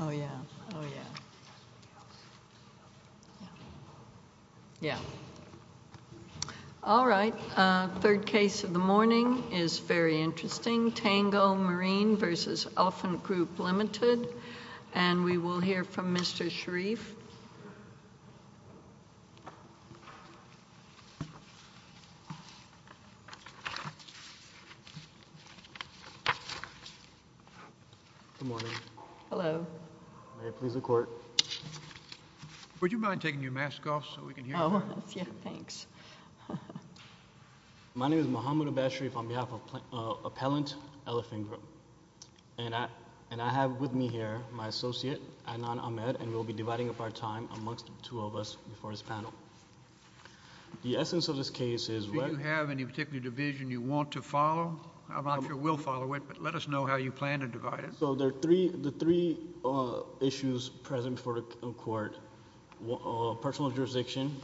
Oh yeah, oh yeah, yeah, all right. Third case of the morning is very interesting. Tango Marine versus Elfin Group Limited. And we will hear from Mr. Sharif. Good morning. Hello. May it please the court. Would you mind taking your mask off so we can hear you? Oh yeah, thanks. My name is Muhammad Abash Sharif on behalf of Appellant Elfin Group. And I have with me here my associate, Adnan Ahmed, and we'll be dividing up our time amongst the two of us before this panel. The essence of this case is- Do you have any particular division you want to follow? I'm not sure we'll follow it, but let us know how you plan to divide it. So there are three issues present for the court. Personal jurisdiction,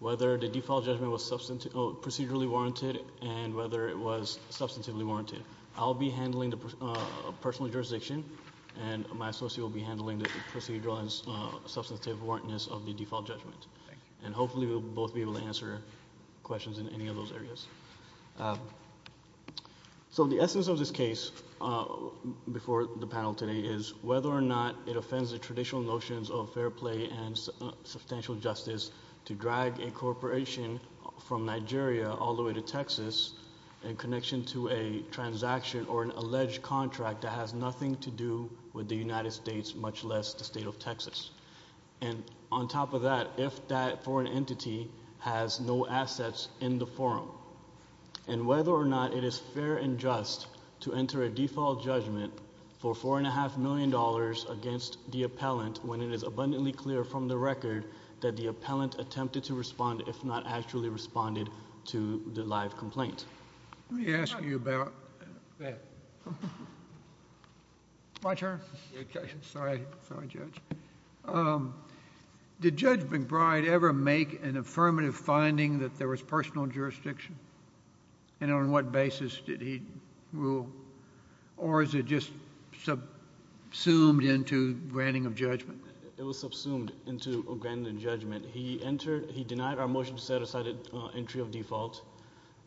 whether the default judgment was procedurally warranted, and whether it was substantively warranted. I'll be handling the personal jurisdiction, and my associate will be handling the procedural and substantive warrantness of the default judgment. And hopefully we'll both be able to answer questions in any of those areas. So the essence of this case before the panel today is whether or not it offends the traditional notions of fair play and substantial justice to drag a corporation from Nigeria all the way to Texas in connection to a transaction or an alleged contract that has nothing to do with the United States, much less the state of Texas. And on top of that, if that foreign entity has no assets in the forum, and whether or not it is fair and just to enter a default judgment for $4.5 million against the appellant when it is abundantly clear from the record that the appellant attempted to respond, if not actually responded, to the live complaint. Let me ask you about that. My turn? Sorry, Judge. Did Judge McBride ever make an affirmative finding that there was personal jurisdiction? And on what basis did he rule? Or is it just subsumed into granting of judgment? It was subsumed into granting of judgment. He entered, he denied our motion to set aside an entry of default.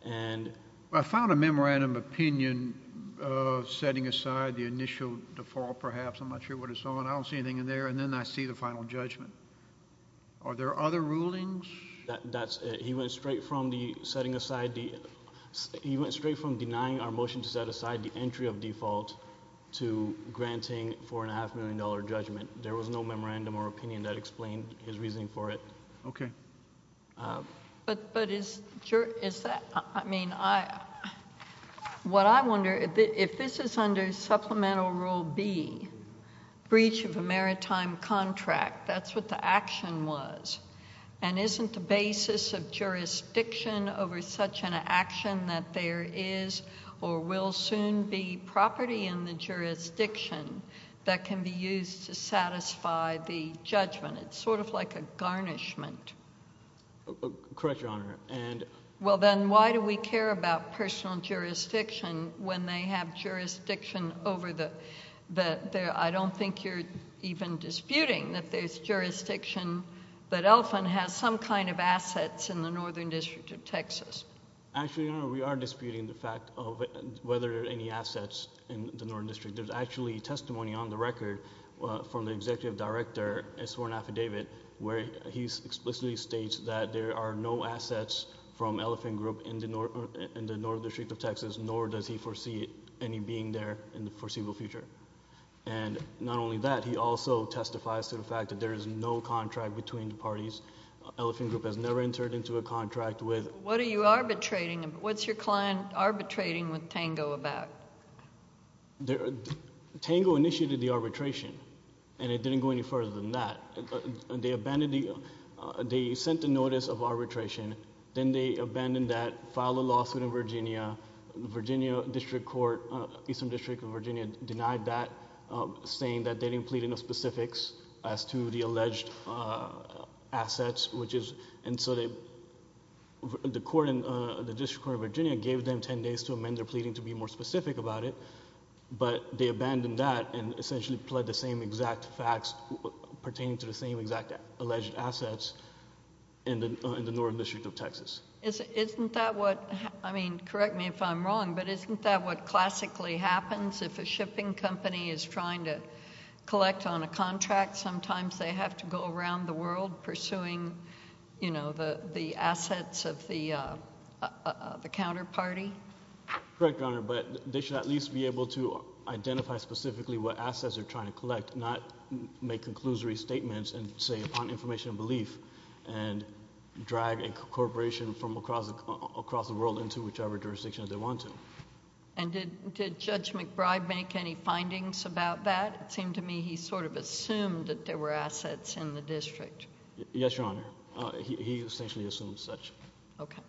And— I found a memorandum of opinion of setting aside the initial default, perhaps. I'm not sure what it's on. I don't see anything in there. And then I see the final judgment. Are there other rulings? That's it. He went straight from the setting aside the, he went straight from denying our motion to set aside the entry of default to granting $4.5 million judgment. There was no memorandum or opinion that explained his reasoning for it. Okay. But is that, I mean, what I wonder, if this is under Supplemental Rule B, breach of a maritime contract, that's what the action was. And isn't the basis of jurisdiction over such an action that there is, or will soon be, property in the jurisdiction that can be used to satisfy the judgment? It's sort of like a garnishment. Correct, Your Honor. And— Well, then why do we care about personal jurisdiction when they have jurisdiction over the, I don't think you're even disputing that there's jurisdiction that Elephant has some kind of assets in the Northern District of Texas. Actually, Your Honor, we are disputing the fact of whether there are any assets in the Northern District. There's actually testimony on the record from the Executive Director, a sworn affidavit, where he explicitly states that there are no assets from Elephant Group in the Northern District of Texas, nor does he foresee any being there in the foreseeable future. And not only that, he also testifies to the fact that there is no contract between the parties. Elephant Group has never entered into a contract with— What are you arbitrating? What's your client arbitrating with TANGO about? TANGO initiated the arbitration, and it didn't go any further than that. They sent a notice of arbitration. Then they abandoned that, filed a lawsuit in Virginia. The Virginia District Court, Eastern District of Virginia, denied that, saying that they didn't plead enough specifics as to the alleged assets, which is... The court in the District Court of Virginia gave them ten days to amend their pleading to be more specific about it, but they abandoned that and essentially pled the same exact facts pertaining to the same exact alleged assets in the Northern District of Texas. Isn't that what... I mean, correct me if I'm wrong, but isn't that what classically happens if a shipping company is trying to collect on a contract? Sometimes they have to go around the world pursuing the assets of the counterparty. Correct, Your Honor, but they should at least be able to identify specifically what assets they're trying to collect, not make conclusory statements and say, upon information and belief, and drag a corporation from across the world into whichever jurisdiction they want to. And did Judge McBride make any findings about that? It seemed to me he sort of assumed that there were assets in the district. Yes, Your Honor. He essentially assumed such. Okay.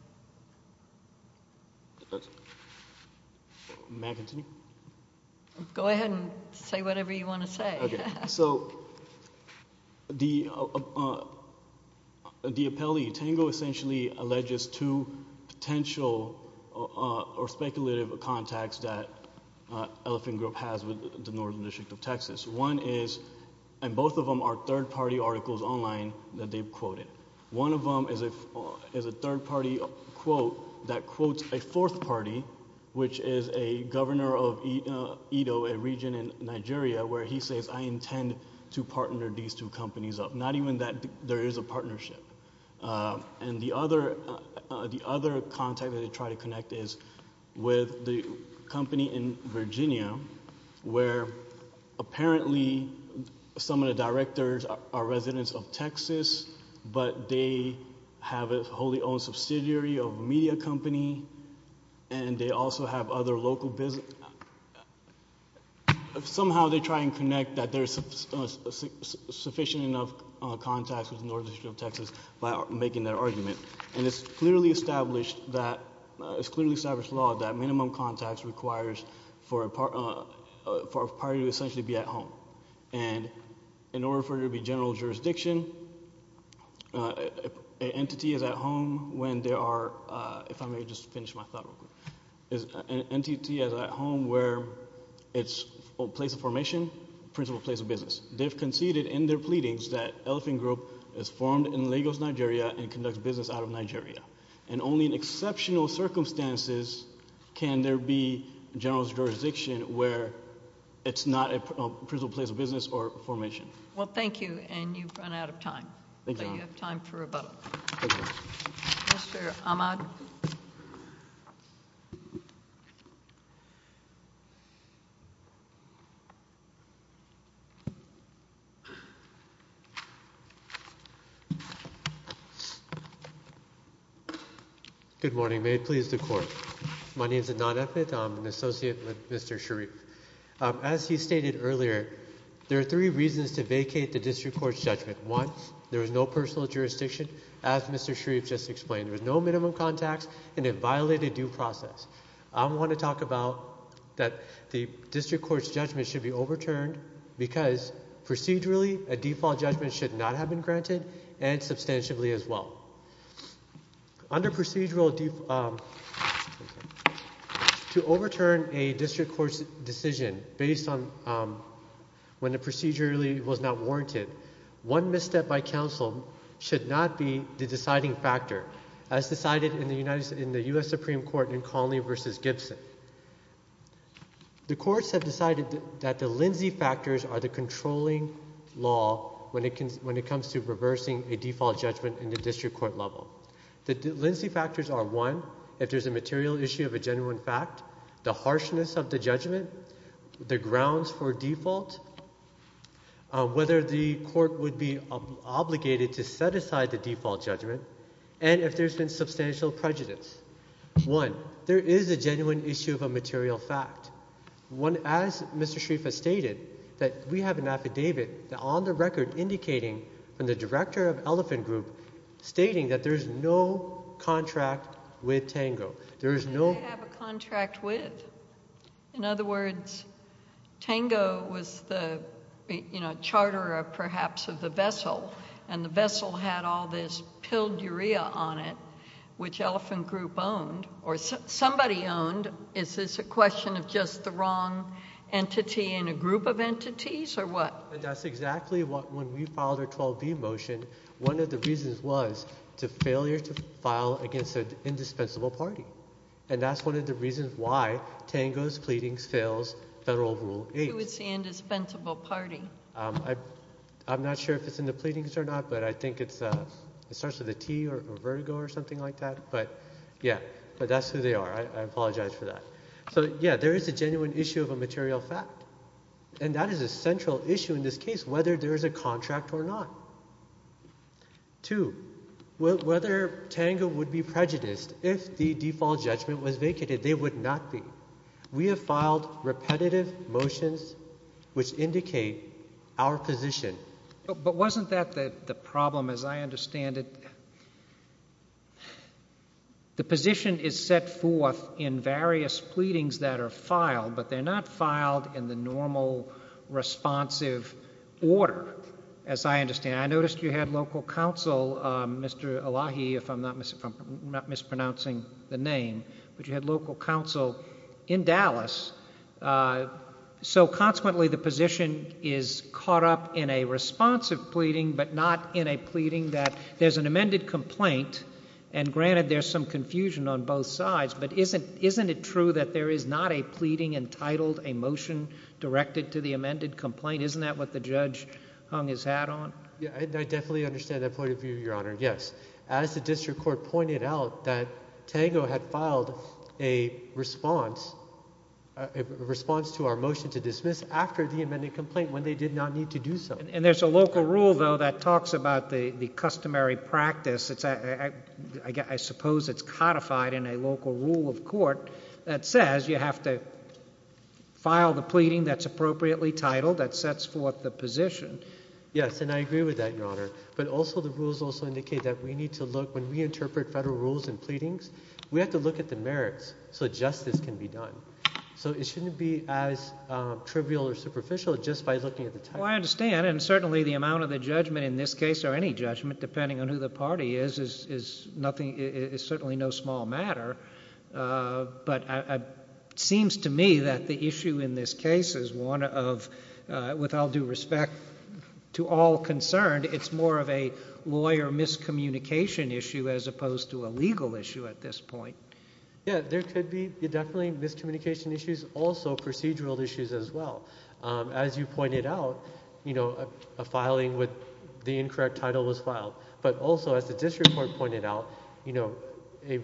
May I continue? Go ahead and say whatever you want to say. Okay. So the appellee, Tango, essentially alleges two potential or speculative contacts that Elephant Group has with the Northern District of Texas. One is... and both of them are third-party articles online that they've quoted. One of them is a third-party quote that quotes a fourth party, which is a governor of Edo, a region in Nigeria, where he says, I intend to partner these two companies up. Not even that there is a partnership. And the other contact that they try to connect is with the company in Virginia, where apparently some of the directors are residents of Texas, but they have a wholly owned subsidiary of a media company, and they also have other local business... somehow they try and connect that there's sufficient enough contacts with the Northern District of Texas by making their argument. And it's clearly established that... it's clearly established law that minimum contacts requires for a party to essentially be at home. And in order for it to be general jurisdiction, an entity is at home when there are... if I may just finish my thought real quick... an entity is at home where it's a place of formation, principal place of business. They've conceded in their pleadings that Elephant Group is formed in Lagos, Nigeria, and conducts business out of Nigeria. And only in exceptional circumstances can there be general jurisdiction where it's not a principal place of business or formation. Well, thank you. And you've run out of time. Thank you. You have time for a vote. Mr. Ahmad. Good morning. May it please the Court. My name is Anant Ahmed. I'm an associate with Mr. Sharif. As he stated earlier, there are three reasons to vacate the District Court's judgment. One, there is no personal jurisdiction, as Mr. Sharif just explained. There's no minimum contacts, and it violated due process. I want to talk about that the District Court's judgment should be overturned because procedurally, a default judgment should not have been granted, and substantively as well. Under procedural... to overturn a District Court's decision based on when the procedure was not warranted, one misstep by counsel should not be the deciding factor, as decided in the U.S. Supreme Court in Conley v. Gibson. The courts have decided that the Lindsay factors are the controlling law when it comes to reversing a default judgment in the District Court level. The Lindsay factors are, one, if there's a material issue of a genuine fact, the harshness of the judgment, the grounds for default, whether the court would be obligated to set aside the default judgment, and if there's been substantial prejudice. One, there is a genuine issue of a material fact. One, as Mr. Sharif has stated, that we have an affidavit on the record indicating from the director of Elephant Group stating that there's no contract with Tango. There is no... They have a contract with. In other words, Tango was the, you know, charterer, perhaps, of the vessel, and the vessel had all this piledurea on it, which Elephant Group owned, or somebody owned. Is this a question of just the wrong entity in a group of entities, or what? That's exactly what, when we filed our 12B motion, one of the reasons was to failure to file against an indispensable party, and that's one of the reasons why Tango's pleadings fails Federal Rule 8. Who is the indispensable party? I'm not sure if it's in the pleadings or not, but I think it's, it starts with a T, or vertigo, or something like that. But, yeah, but that's who they are. I apologize for that. So, yeah, there is a genuine issue of a material fact, and that is a central issue in this case, whether there is a contract or not. Two, whether Tango would be prejudiced if the default judgment was vacated. They would not be. We have filed repetitive motions which indicate our position. But wasn't that the problem, as I understand it? The position is set forth in various pleadings that are filed, but they're not filed in the normal, responsive order, as I understand. I noticed you had local counsel, Mr. Elahi, if I'm not mispronouncing the name, but you had local counsel in Dallas. So, consequently, the position is caught up in a responsive pleading, but not in a pleading that there's an amended complaint. And, granted, there's some confusion on both sides, but isn't it true that there is not a pleading entitled, a motion directed to the amended complaint? Isn't that what the judge hung his hat on? Yeah, I definitely understand that point of view, Your Honor, yes. As the district court pointed out, that Tango had filed a response to our motion to dismiss after the amended complaint when they did not need to do so. And there's a local rule, though, that talks about the customary practice. I suppose it's codified in a local rule of court that says you have to file the pleading that's appropriately titled, that sets forth the position. Yes, and I agree with that, Your Honor. But also, the rules also indicate that we need to look, when we interpret federal rules and pleadings, we have to look at the merits so justice can be done. So it shouldn't be as trivial or superficial just by looking at the title. Well, I understand, and certainly the amount of the judgment in this case, or any judgment, depending on who the party is, is certainly no small matter. But it seems to me that the issue in this case is one of, with all due respect to all concerned, it's more of a lawyer miscommunication issue as opposed to a legal issue at this point. Yeah, there could be definitely miscommunication issues, also procedural issues as well. As you pointed out, a filing with the incorrect title was filed. But also, as the district court pointed out, a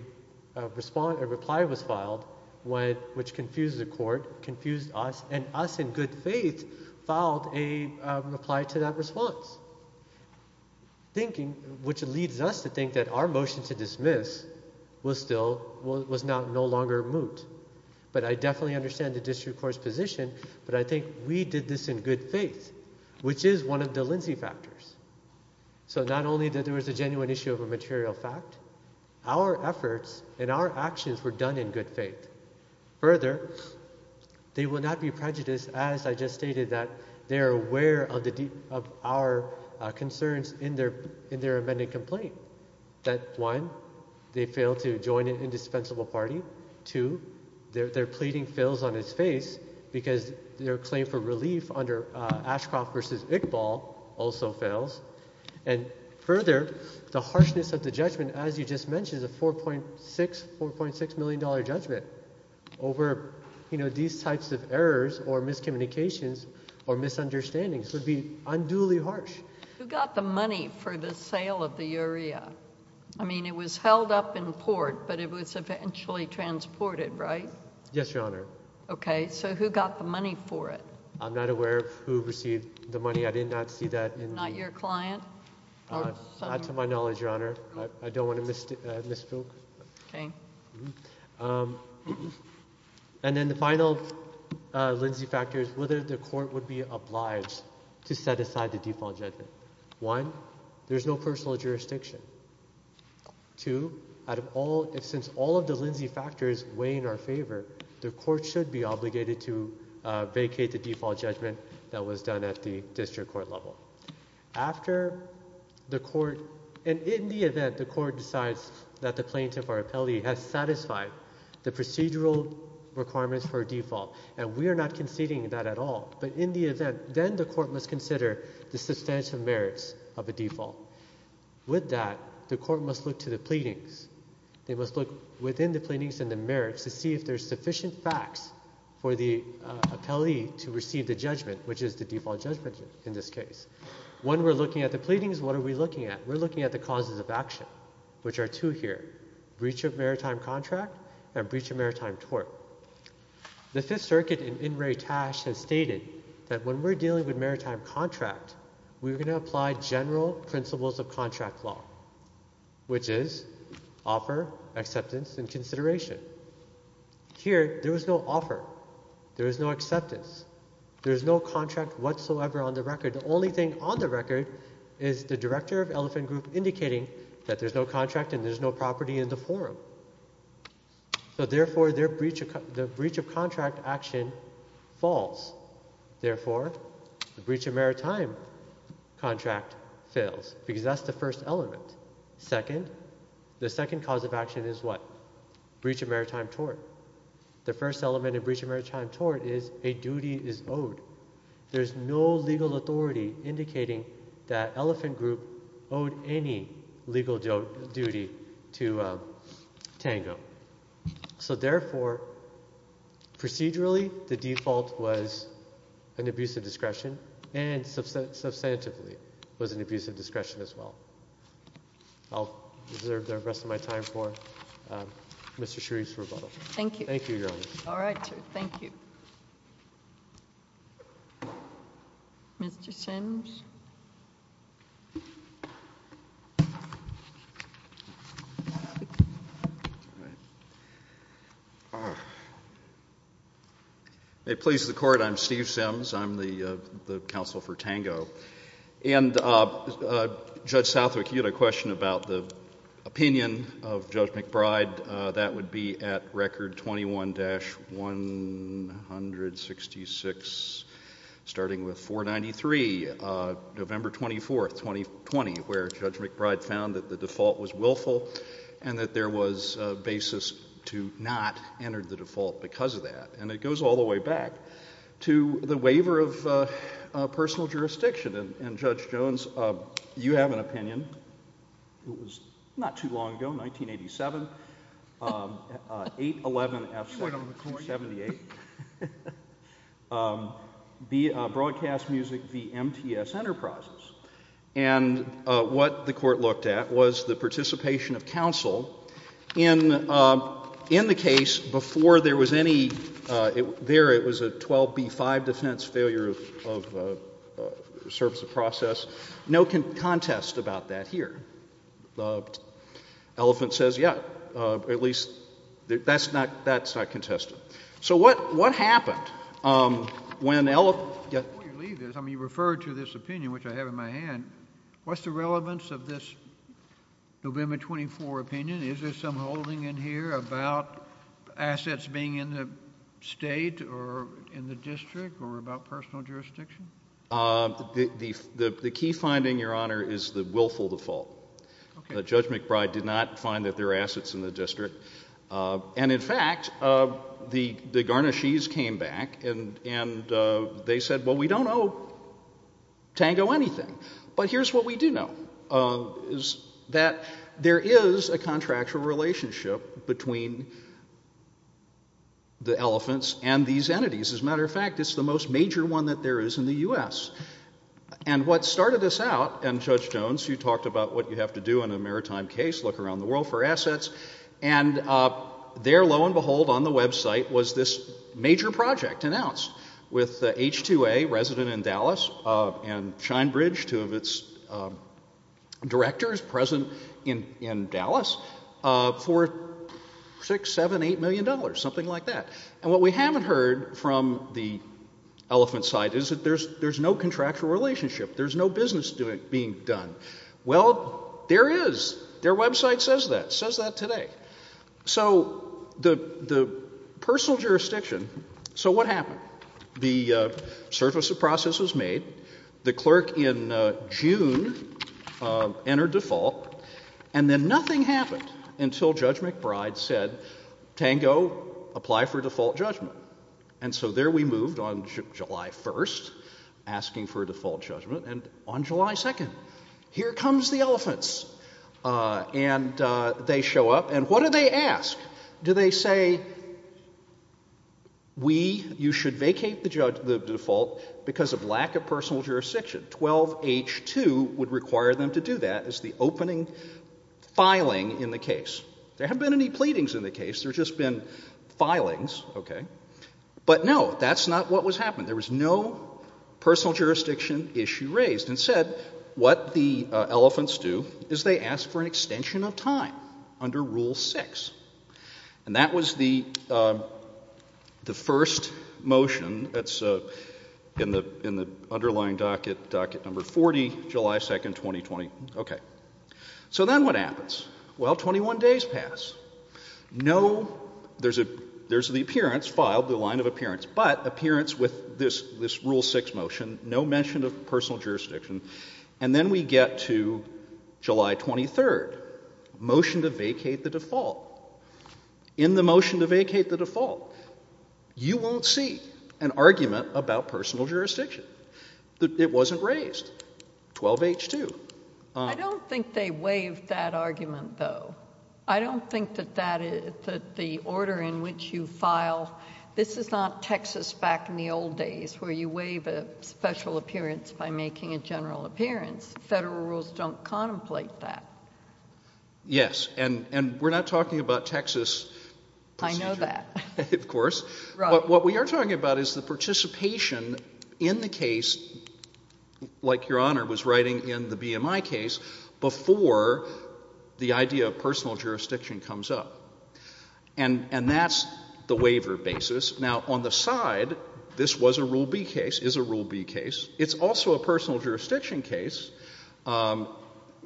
reply was filed, which confused the court, confused us, and us, in good faith, filed a reply to that response. Which leads us to think that our motion to dismiss was no longer moot. But I definitely understand the district court's position, but I think we did this in good faith, which is one of the Lindsay factors. So not only that there was a genuine issue of a material fact, our efforts and our actions were done in good faith. Further, they will not be prejudiced, as I just stated, that they are aware of our concerns in their amended complaint. One, they failed to join an indispensable party. Two, their pleading fails on its face because their claim for relief under Ashcroft v. Iqbal also fails. And further, the harshness of the judgment, as you just mentioned, a $4.6 million judgment over these types of errors or miscommunications or misunderstandings would be unduly harsh. Who got the money for the sale of the urea? I mean, it was held up in port, but it was eventually transported, right? Yes, Your Honor. Okay. So who got the money for it? I'm not aware of who received the money. I did not see that in the— Not your client? Not to my knowledge, Your Honor. I don't want to misspoke. Okay. And then the final Lindsay factor is whether the court would be obliged to set aside the default judgment. One, there's no personal jurisdiction. Two, since all of the Lindsay factors weigh in our favor, the court should be obligated to vacate the default judgment that was done at the district court level. After the court— and in the event the court decides that the plaintiff or appellee has satisfied the procedural requirements for a default, and we are not conceding that at all, but in the event, then the court must consider the substantive merits of a default. With that, the court must look to the pleadings. They must look within the pleadings and the merits to see if there's sufficient facts for the appellee to receive the judgment, which is the default judgment in this case. When we're looking at the pleadings, what are we looking at? We're looking at the causes of action, which are two here— breach of maritime contract and breach of maritime tort. The Fifth Circuit in In re Tash has stated that when we're dealing with maritime contract, we're going to apply general principles of contract law, which is offer, acceptance, and consideration. Here, there was no offer. There is no acceptance. There is no contract whatsoever on the record. The only thing on the record is the director of Elephant Group indicating that there's no contract and there's no property in the forum. So therefore, the breach of contract action falls. Therefore, the breach of maritime contract fails because that's the first element. Second, the second cause of action is what? Breach of maritime tort. The first element of breach of maritime tort is a duty is owed. There's no legal authority indicating that Elephant Group owed any legal duty to Tango. So therefore, procedurally, the default was an abuse of discretion and substantively was an abuse of discretion as well. I'll reserve the rest of my time for Mr. Sharif's rebuttal. Thank you. Thank you, Your Honor. All right, sir. Thank you. Mr. Simms. It pleases the court. I'm Steve Simms. I'm the counsel for Tango. And Judge Southwick, you had a question about the opinion of Judge McBride. That would be at record 21-166, starting with 493, November 24, 2020, where Judge McBride found that the default was willful and that there was a basis to not enter the default because of that. And it goes all the way back to the waiver of personal jurisdiction. And Judge Jones, you have an opinion. It was not too long ago, 1987, 8-11-F-78, Broadcast Music v. MTS Enterprises. And what the court looked at was the participation of counsel in the case before there was any, there it was a 12b-5 defense failure of service of process. No contest about that here. Elephant says, yeah, at least, that's not contested. So what happened when Elephant— Before you leave this, I mean, you referred to this opinion, which I have in my hand. What's the relevance of this November 24 opinion? Is there some holding in here about assets being in the state or in the district or about personal jurisdiction? The key finding, Your Honor, is the willful default. Judge McBride did not find that there are assets in the district. And in fact, the Garnashees came back and they said, well, we don't owe Tango anything. But here's what we do know, is that there is a contractual relationship between the Elephants and these entities. As a matter of fact, it's the most major one that there is in the U.S. And what started this out, and Judge Jones, you talked about what you have to do in a maritime case, look around the world for assets, and there, lo and behold, on the website, was this major project announced with the H-2A resident in Dallas and Shinebridge, two of its directors present in Dallas, for $6, $7, $8 million, something like that. And what we haven't heard from the Elephant side is that there's no contractual relationship. There's no business being done. Well, there is. Their website says that, says that today. So the personal jurisdiction, so what happened? The surface of process was made. The clerk in June entered default. And then nothing happened until Judge McBride said, Tango, apply for default judgment. And so there we moved on July 1st, asking for a default judgment. And on July 2nd, here comes the Elephants. And they show up. And what do they ask? Do they say, we, you should vacate the default because of lack of personal jurisdiction? 12H-2 would require them to do that as the opening filing in the case. There haven't been any pleadings in the case. There's just been filings, okay. But no, that's not what was happening. There was no personal jurisdiction issue raised. Instead, what the Elephants do is they ask for an extension of time under Rule 6. And that was the first motion that's in the underlying docket, docket number 40, July 2nd, 2020. Okay, so then what happens? Well, 21 days pass. No, there's the appearance filed, the line of appearance, but appearance with this Rule 6 motion, no mention of personal jurisdiction. And then we get to July 23rd, motion to vacate the default. In the motion to vacate the default, you won't see an argument about personal jurisdiction. It wasn't raised. 12H-2. I don't think they waived that argument, though. I don't think that the order in which you file, this is not Texas back in the old days, where you waive a special appearance by making a general appearance. Federal rules don't contemplate that. Yes, and we're not talking about Texas procedure. I know that. Of course, but what we are talking about is the participation in the case, like Your Honor was writing in the BMI case, before the idea of personal jurisdiction comes up. And that's the waiver basis. Now, on the side, this was a Rule B case, is a Rule B case. It's also a personal jurisdiction case.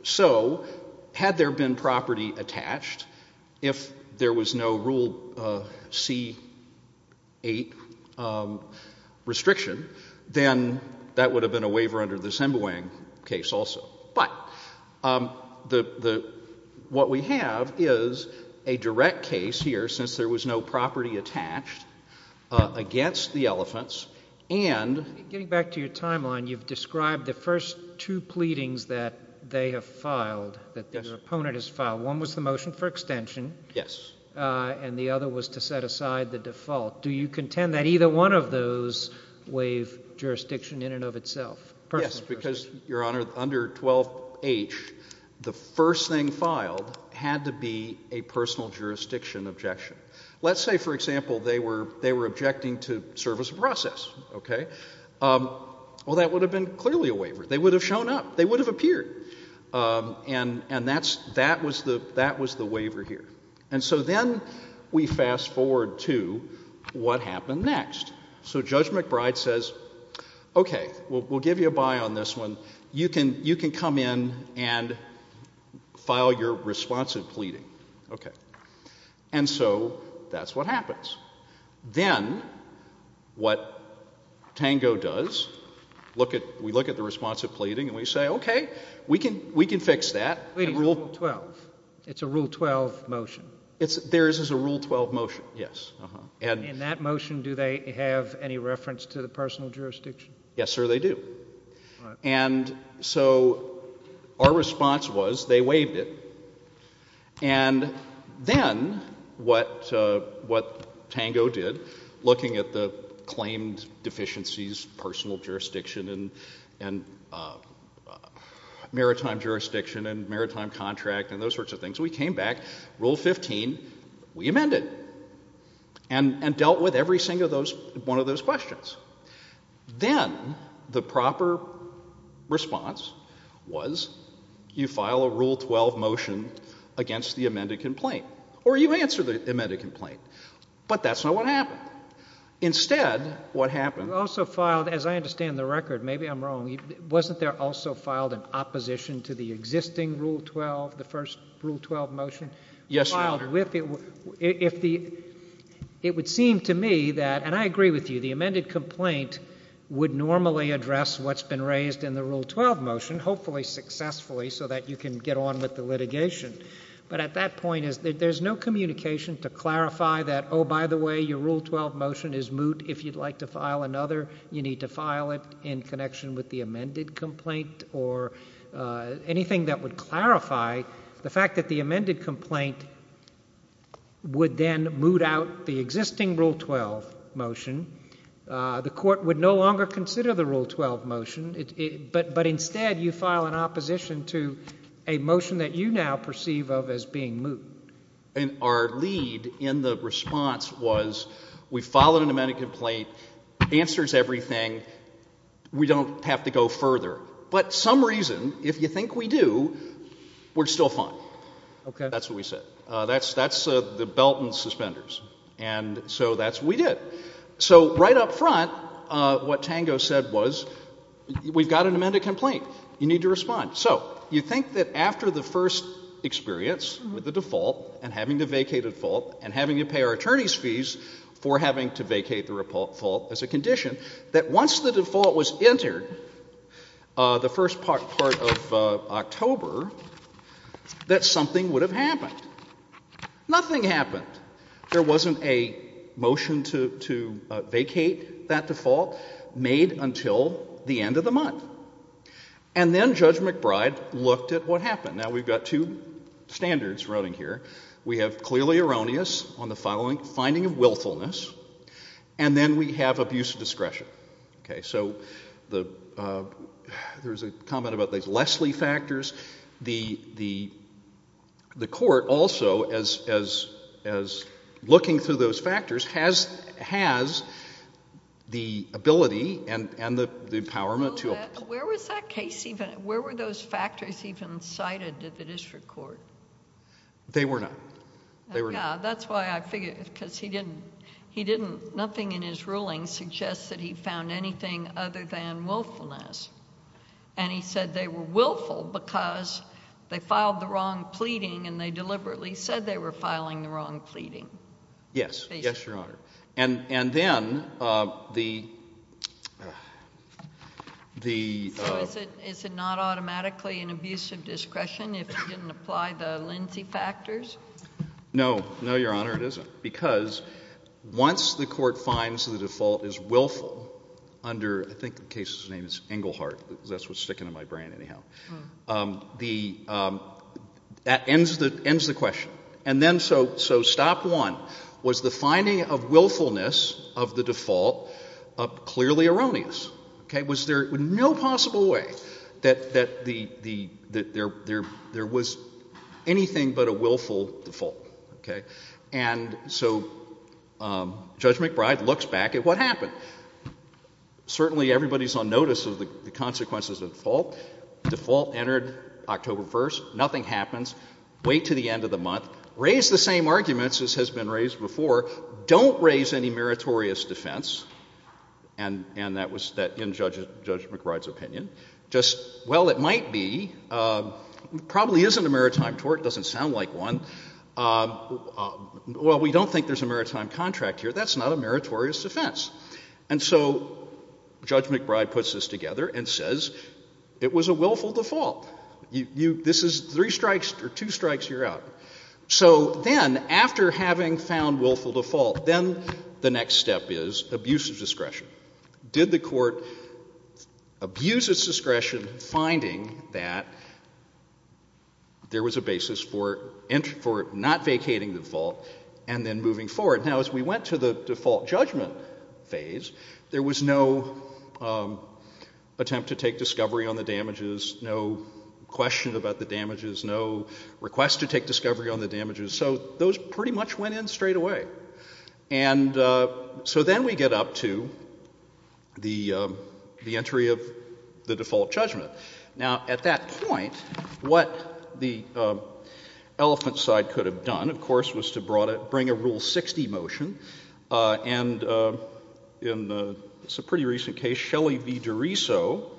So, had there been property attached, if there was no Rule C-8 restriction, then that would have been a waiver under the Sembawang case also. But what we have is a direct case here, since there was no property attached against the elephants, and— Getting back to your timeline, you've described the first two pleadings that they have filed, that the opponent has filed. One was the motion for extension. Yes. And the other was to set aside the default. Do you contend that either one of those waive jurisdiction in and of itself? Yes, because, Your Honor, under 12H, the first thing filed had to be a personal jurisdiction objection. Let's say, for example, they were objecting to service of process, okay? Well, that would have been clearly a waiver. They would have shown up. They would have appeared. And that was the waiver here. And so then we fast forward to what happened next. So Judge McBride says, okay, we'll give you a buy on this one. You can come in and file your responsive pleading, okay? And so that's what happens. Then what Tango does, we look at the responsive pleading, and we say, okay, we can fix that. Pleading is Rule 12. It's a Rule 12 motion. Theirs is a Rule 12 motion, yes. In that motion, do they have any reference to the personal jurisdiction? Yes, sir, they do. And so our response was they waived it. And then what Tango did, looking at the claimed deficiencies, personal jurisdiction and maritime jurisdiction and maritime contract and those sorts of things, we came back, Rule 15, we amended and dealt with every single one of those questions. Then the proper response was you file a Rule 12 motion against the amended complaint. Or you answer the amended complaint. But that's not what happened. Instead, what happened... You also filed, as I understand the record, maybe I'm wrong, wasn't there also filed in opposition to the existing Rule 12, the first Rule 12 motion? Yes, Your Honor. If the... It would seem to me that, and I agree with you, the amended complaint would normally address what's been raised in the Rule 12 motion, hopefully successfully, so that you can get on with the litigation. But at that point, there's no communication to clarify that, oh, by the way, your Rule 12 motion is moot. If you'd like to file another, you need to file it in connection with the amended complaint or anything that would clarify the fact that the amended complaint would then moot out the existing Rule 12 motion, the court would no longer consider the Rule 12 motion, but instead you file in opposition to a motion that you now perceive of as being moot. And our lead in the response was we filed an amended complaint, answers everything, we don't have to go further. But for some reason, if you think we do, we're still fine. Okay. That's what we said. That's the belt and suspenders. And so that's what we did. So right up front, what Tango said was we've got an amended complaint. You need to respond. So you think that after the first experience with the default and having to vacate a default and having to pay our attorney's fees for having to vacate the default as a condition, that once the default was entered, the first part of October, that something would have happened. Nothing happened. There wasn't a motion to vacate that default made until the end of the month. And then Judge McBride looked at what happened. Now, we've got two standards running here. We have clearly erroneous on the finding of willfulness. And then we have abuse of discretion. Okay. So there was a comment about these Leslie factors. The court also, as looking through those factors, has the ability and the empowerment to— Where was that case even—where were those factors even cited at the district court? They were not. They were not. That's why I figured—because he didn't—he didn't—nothing in his ruling suggests that he found anything other than willfulness. And he said they were willful because they filed the wrong pleading and they deliberately said they were filing the wrong pleading. Yes. Yes, Your Honor. And then the— Is it not automatically an abuse of discretion if you didn't apply the Lindsay factors? No. No, Your Honor. It isn't. Because once the court finds the default is willful under—I think the case's name is Englehart. That's what's sticking in my brain anyhow. The—that ends the question. And then—so stop one. Was the finding of willfulness of the default clearly erroneous? Okay. Was there no possible way that the—that there was anything but a willful default? Okay. And so Judge McBride looks back at what happened. Certainly everybody's on notice of the consequences of the default. The default entered October 1st. Nothing happens. Wait to the end of the month. Raise the same arguments as has been raised before. Don't raise any meritorious defense. And that was in Judge McBride's opinion. Just, well, it might be. Probably isn't a maritime tort. Doesn't sound like one. Well, we don't think there's a maritime contract here. That's not a meritorious defense. And so Judge McBride puts this together and says it was a willful default. This is three strikes or two strikes, you're out. So then, after having found willful default, then the next step is abuse of discretion. Did the court abuse its discretion finding that there was a basis for not vacating the default and then moving forward? Now, as we went to the default judgment phase, there was no attempt to take discovery on the damages. No question about the damages. No request to take discovery on the damages. So those pretty much went in straight away. And so then we get up to the entry of the default judgment. Now, at that point, what the elephant side could have done, of course, was to bring a Rule 60 motion. And it's a pretty recent case, Shelley v. DeRiso,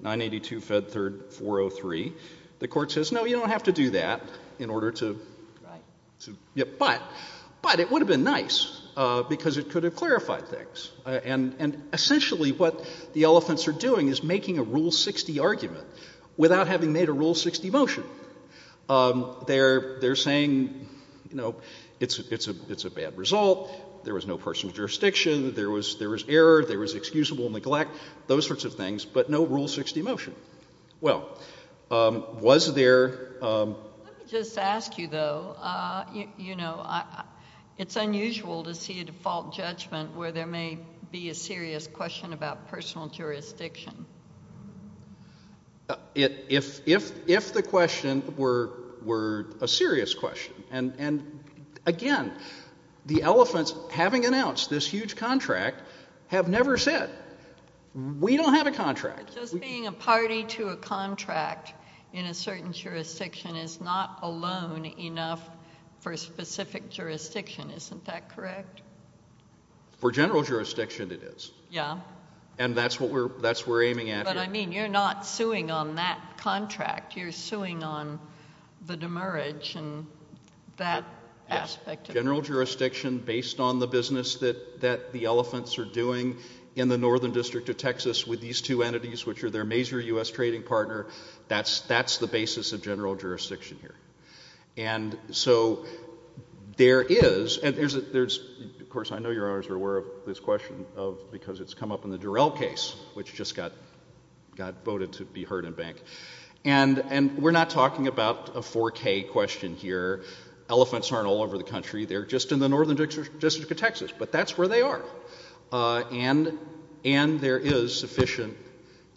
982, Fed 3rd, 403. The court says, no, you don't have to do that in order to— Right. Yeah, but it would have been nice because it could have clarified things. And essentially, what the elephants are doing is making a Rule 60 argument without having made a Rule 60 motion. They're saying, you know, it's a bad result. There was no personal jurisdiction. There was error. There was excusable neglect, those sorts of things, but no Rule 60 motion. Well, was there— Let me just ask you, though, you know, it's unusual to see a default judgment where there may be a serious question about personal jurisdiction. If the question were a serious question, and, again, the elephants, having announced this huge contract, have never said, we don't have a contract. Just being a party to a contract in a certain jurisdiction is not alone enough for a specific jurisdiction. Isn't that correct? For general jurisdiction, it is. Yeah. And that's what we're—that's what we're aiming at here. But, I mean, you're not suing on that contract. You're suing on the demerge and that aspect of it. General jurisdiction based on the business that the elephants are doing in the Northern District of Texas with these two entities, which are their major U.S. trading partner, that's the basis of general jurisdiction here. And so there is—and there's—of course, I know you're always aware of this question because it's come up in the Durell case, which just got voted to be heard in bank. And we're not talking about a 4K question here. Elephants aren't all over the country. They're just in the Northern District of Texas. But that's where they are. And there is sufficient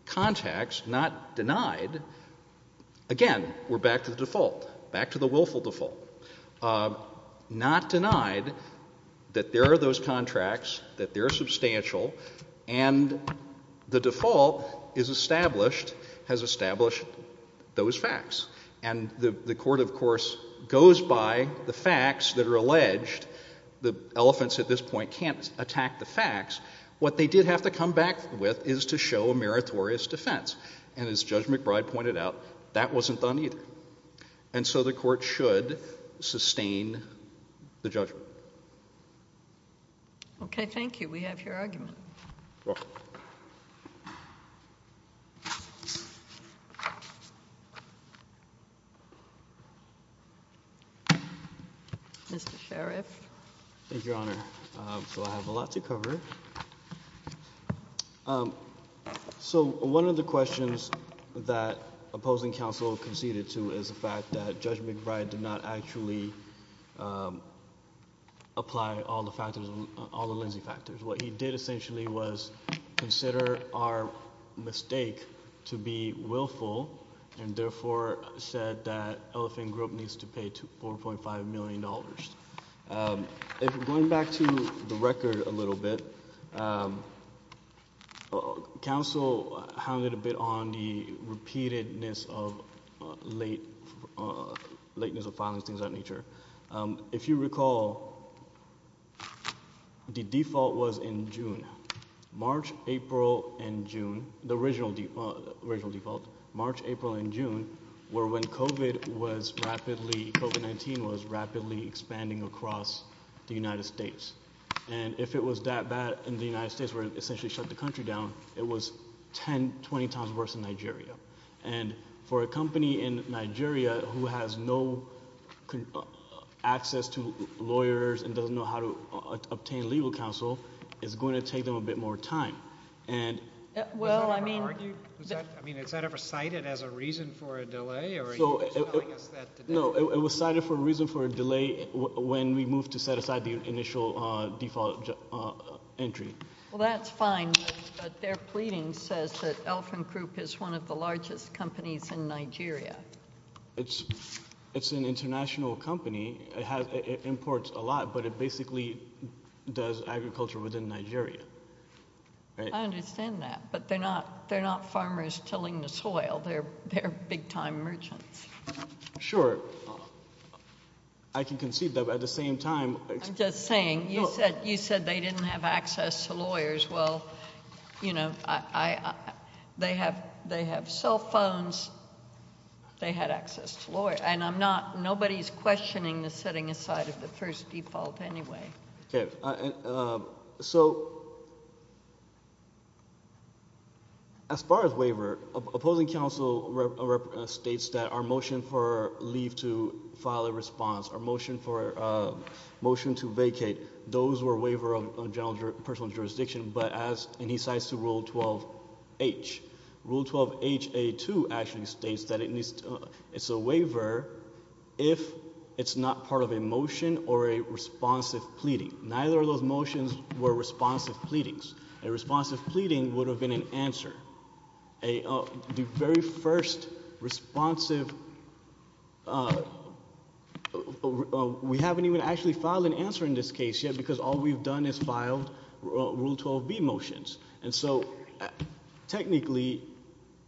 context, not denied—again, we're back to the default, back to the And the default is established—has established those facts. And the court, of course, goes by the facts that are alleged. The elephants at this point can't attack the facts. What they did have to come back with is to show a meritorious defense. And as Judge McBride pointed out, that wasn't done either. And so the court should sustain the judgment. Okay. Thank you. We have your argument. Mr. Sheriff. Thank you, Your Honor. So I have a lot to cover. So one of the questions that opposing counsel conceded to is the fact that Judge McBride did not actually apply all the factors, all the leniency factors. What he did essentially was consider our mistake to be willful and therefore said that Elephant Group needs to pay $4.5 million. If we're going back to the record a little bit, counsel hounded a bit on the repeatedness of late—lateness of filings, things of that nature. If you recall, the default was in June. March, April, and June—the original default, March, April, and June were when COVID was rapidly—COVID-19 was rapidly expanding across the United States. And if it was that bad and the United States were to essentially shut the country down, it was 10, 20 times worse than Nigeria. And for a company in Nigeria who has no access to lawyers and doesn't know how to obtain legal counsel, it's going to take them a bit more time. And— Well, I mean— I mean, is that ever cited as a reason for a delay, or are you telling us that today? No, it was cited for a reason for a delay when we moved to set aside the initial default entry. Well, that's fine, but their pleading says that Elfin Group is one of the largest companies in Nigeria. It's an international company. It imports a lot, but it basically does agriculture within Nigeria, right? I understand that, but they're not farmers tilling the soil. They're big-time merchants. Sure. I can concede that, but at the same time— Just saying, you said they didn't have access to lawyers. Well, you know, they have cell phones. They had access to lawyers. And I'm not—nobody's questioning the setting aside of the first default anyway. Okay. So, as far as waiver, opposing counsel states that our motion for leave to file a response, our motion to vacate, those were a waiver of personal jurisdiction, but as—and he cites to Rule 12H. Rule 12HA2 actually states that it's a waiver if it's not part of a motion or a responsive pleading. Neither of those motions were responsive pleadings. A responsive pleading would have been an answer. A—the very first responsive—we haven't even actually filed an answer in this case yet because all we've done is filed Rule 12B motions. And so, technically,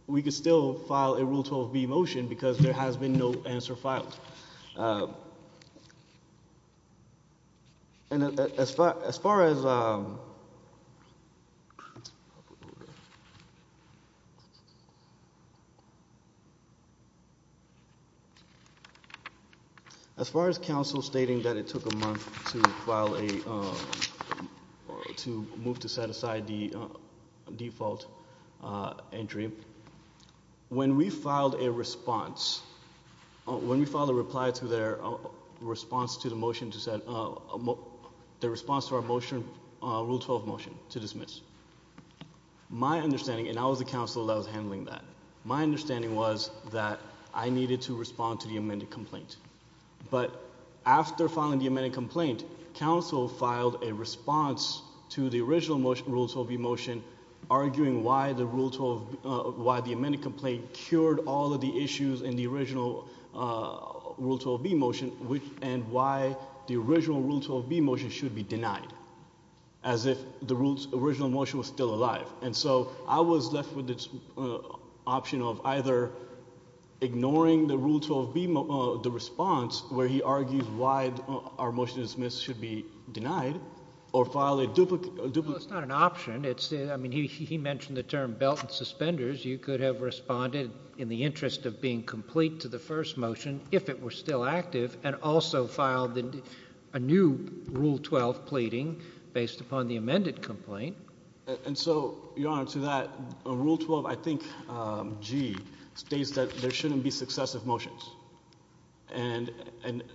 we could still file a Rule 12B motion because there has been no answer filed. And as far as—as far as counsel stating that it took a month to file a—to move to set aside the default entry. When we filed a response—when we filed a reply to their response to the motion to set—the response to our motion, Rule 12 motion, to dismiss, my understanding—and I was the counsel that was handling that—my understanding was that I needed to respond to the amended complaint. But after filing the amended complaint, counsel filed a response to the original Rule 12B motion arguing why the Rule 12—why the amended complaint cured all of the issues in the original Rule 12B motion and why the original Rule 12B motion should be denied. As if the original motion was still alive. And so, I was left with the option of either ignoring the Rule 12B—the response where he argues why our motion to dismiss should be denied or file a duplicate— It's not an option. It's—I mean, he mentioned the term belt and suspenders. You could have responded in the interest of being complete to the first motion if it were still active and also filed a new Rule 12 pleading based upon the amended complaint. And so, Your Honor, to that, Rule 12, I think, G, states that there shouldn't be successive motions. And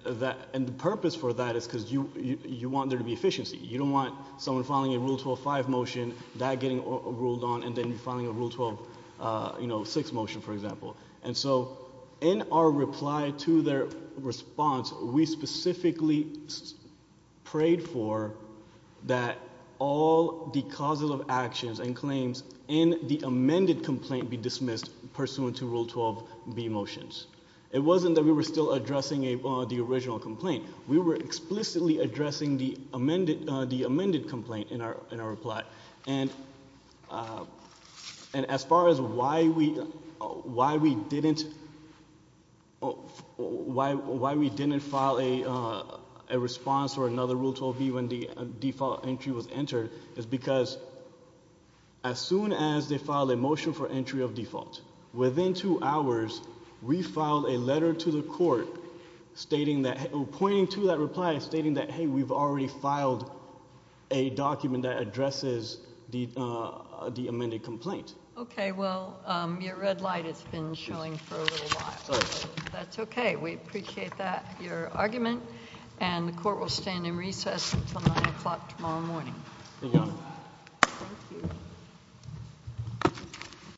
that—and the purpose for that is because you want there to be efficiency. You don't want someone filing a Rule 12-5 motion, that getting ruled on, and then filing a Rule 12, you know, 6 motion, for example. And so, in our reply to their response, we specifically prayed for that all the causes of actions and claims in the amended complaint be dismissed pursuant to Rule 12B motions. It wasn't that we were still addressing the original complaint. We were explicitly addressing the amended complaint in our reply. And as far as why we didn't file a response or another Rule 12B when the default entry was entered is because as soon as they filed a motion for entry of default, within two of that reply stating that, hey, we've already filed a document that addresses the amended complaint. Okay. Well, your red light has been showing for a little while. That's okay. We appreciate that, your argument, and the Court will stand in recess until 9 o'clock tomorrow morning. Thank you, Your Honor. Thank you.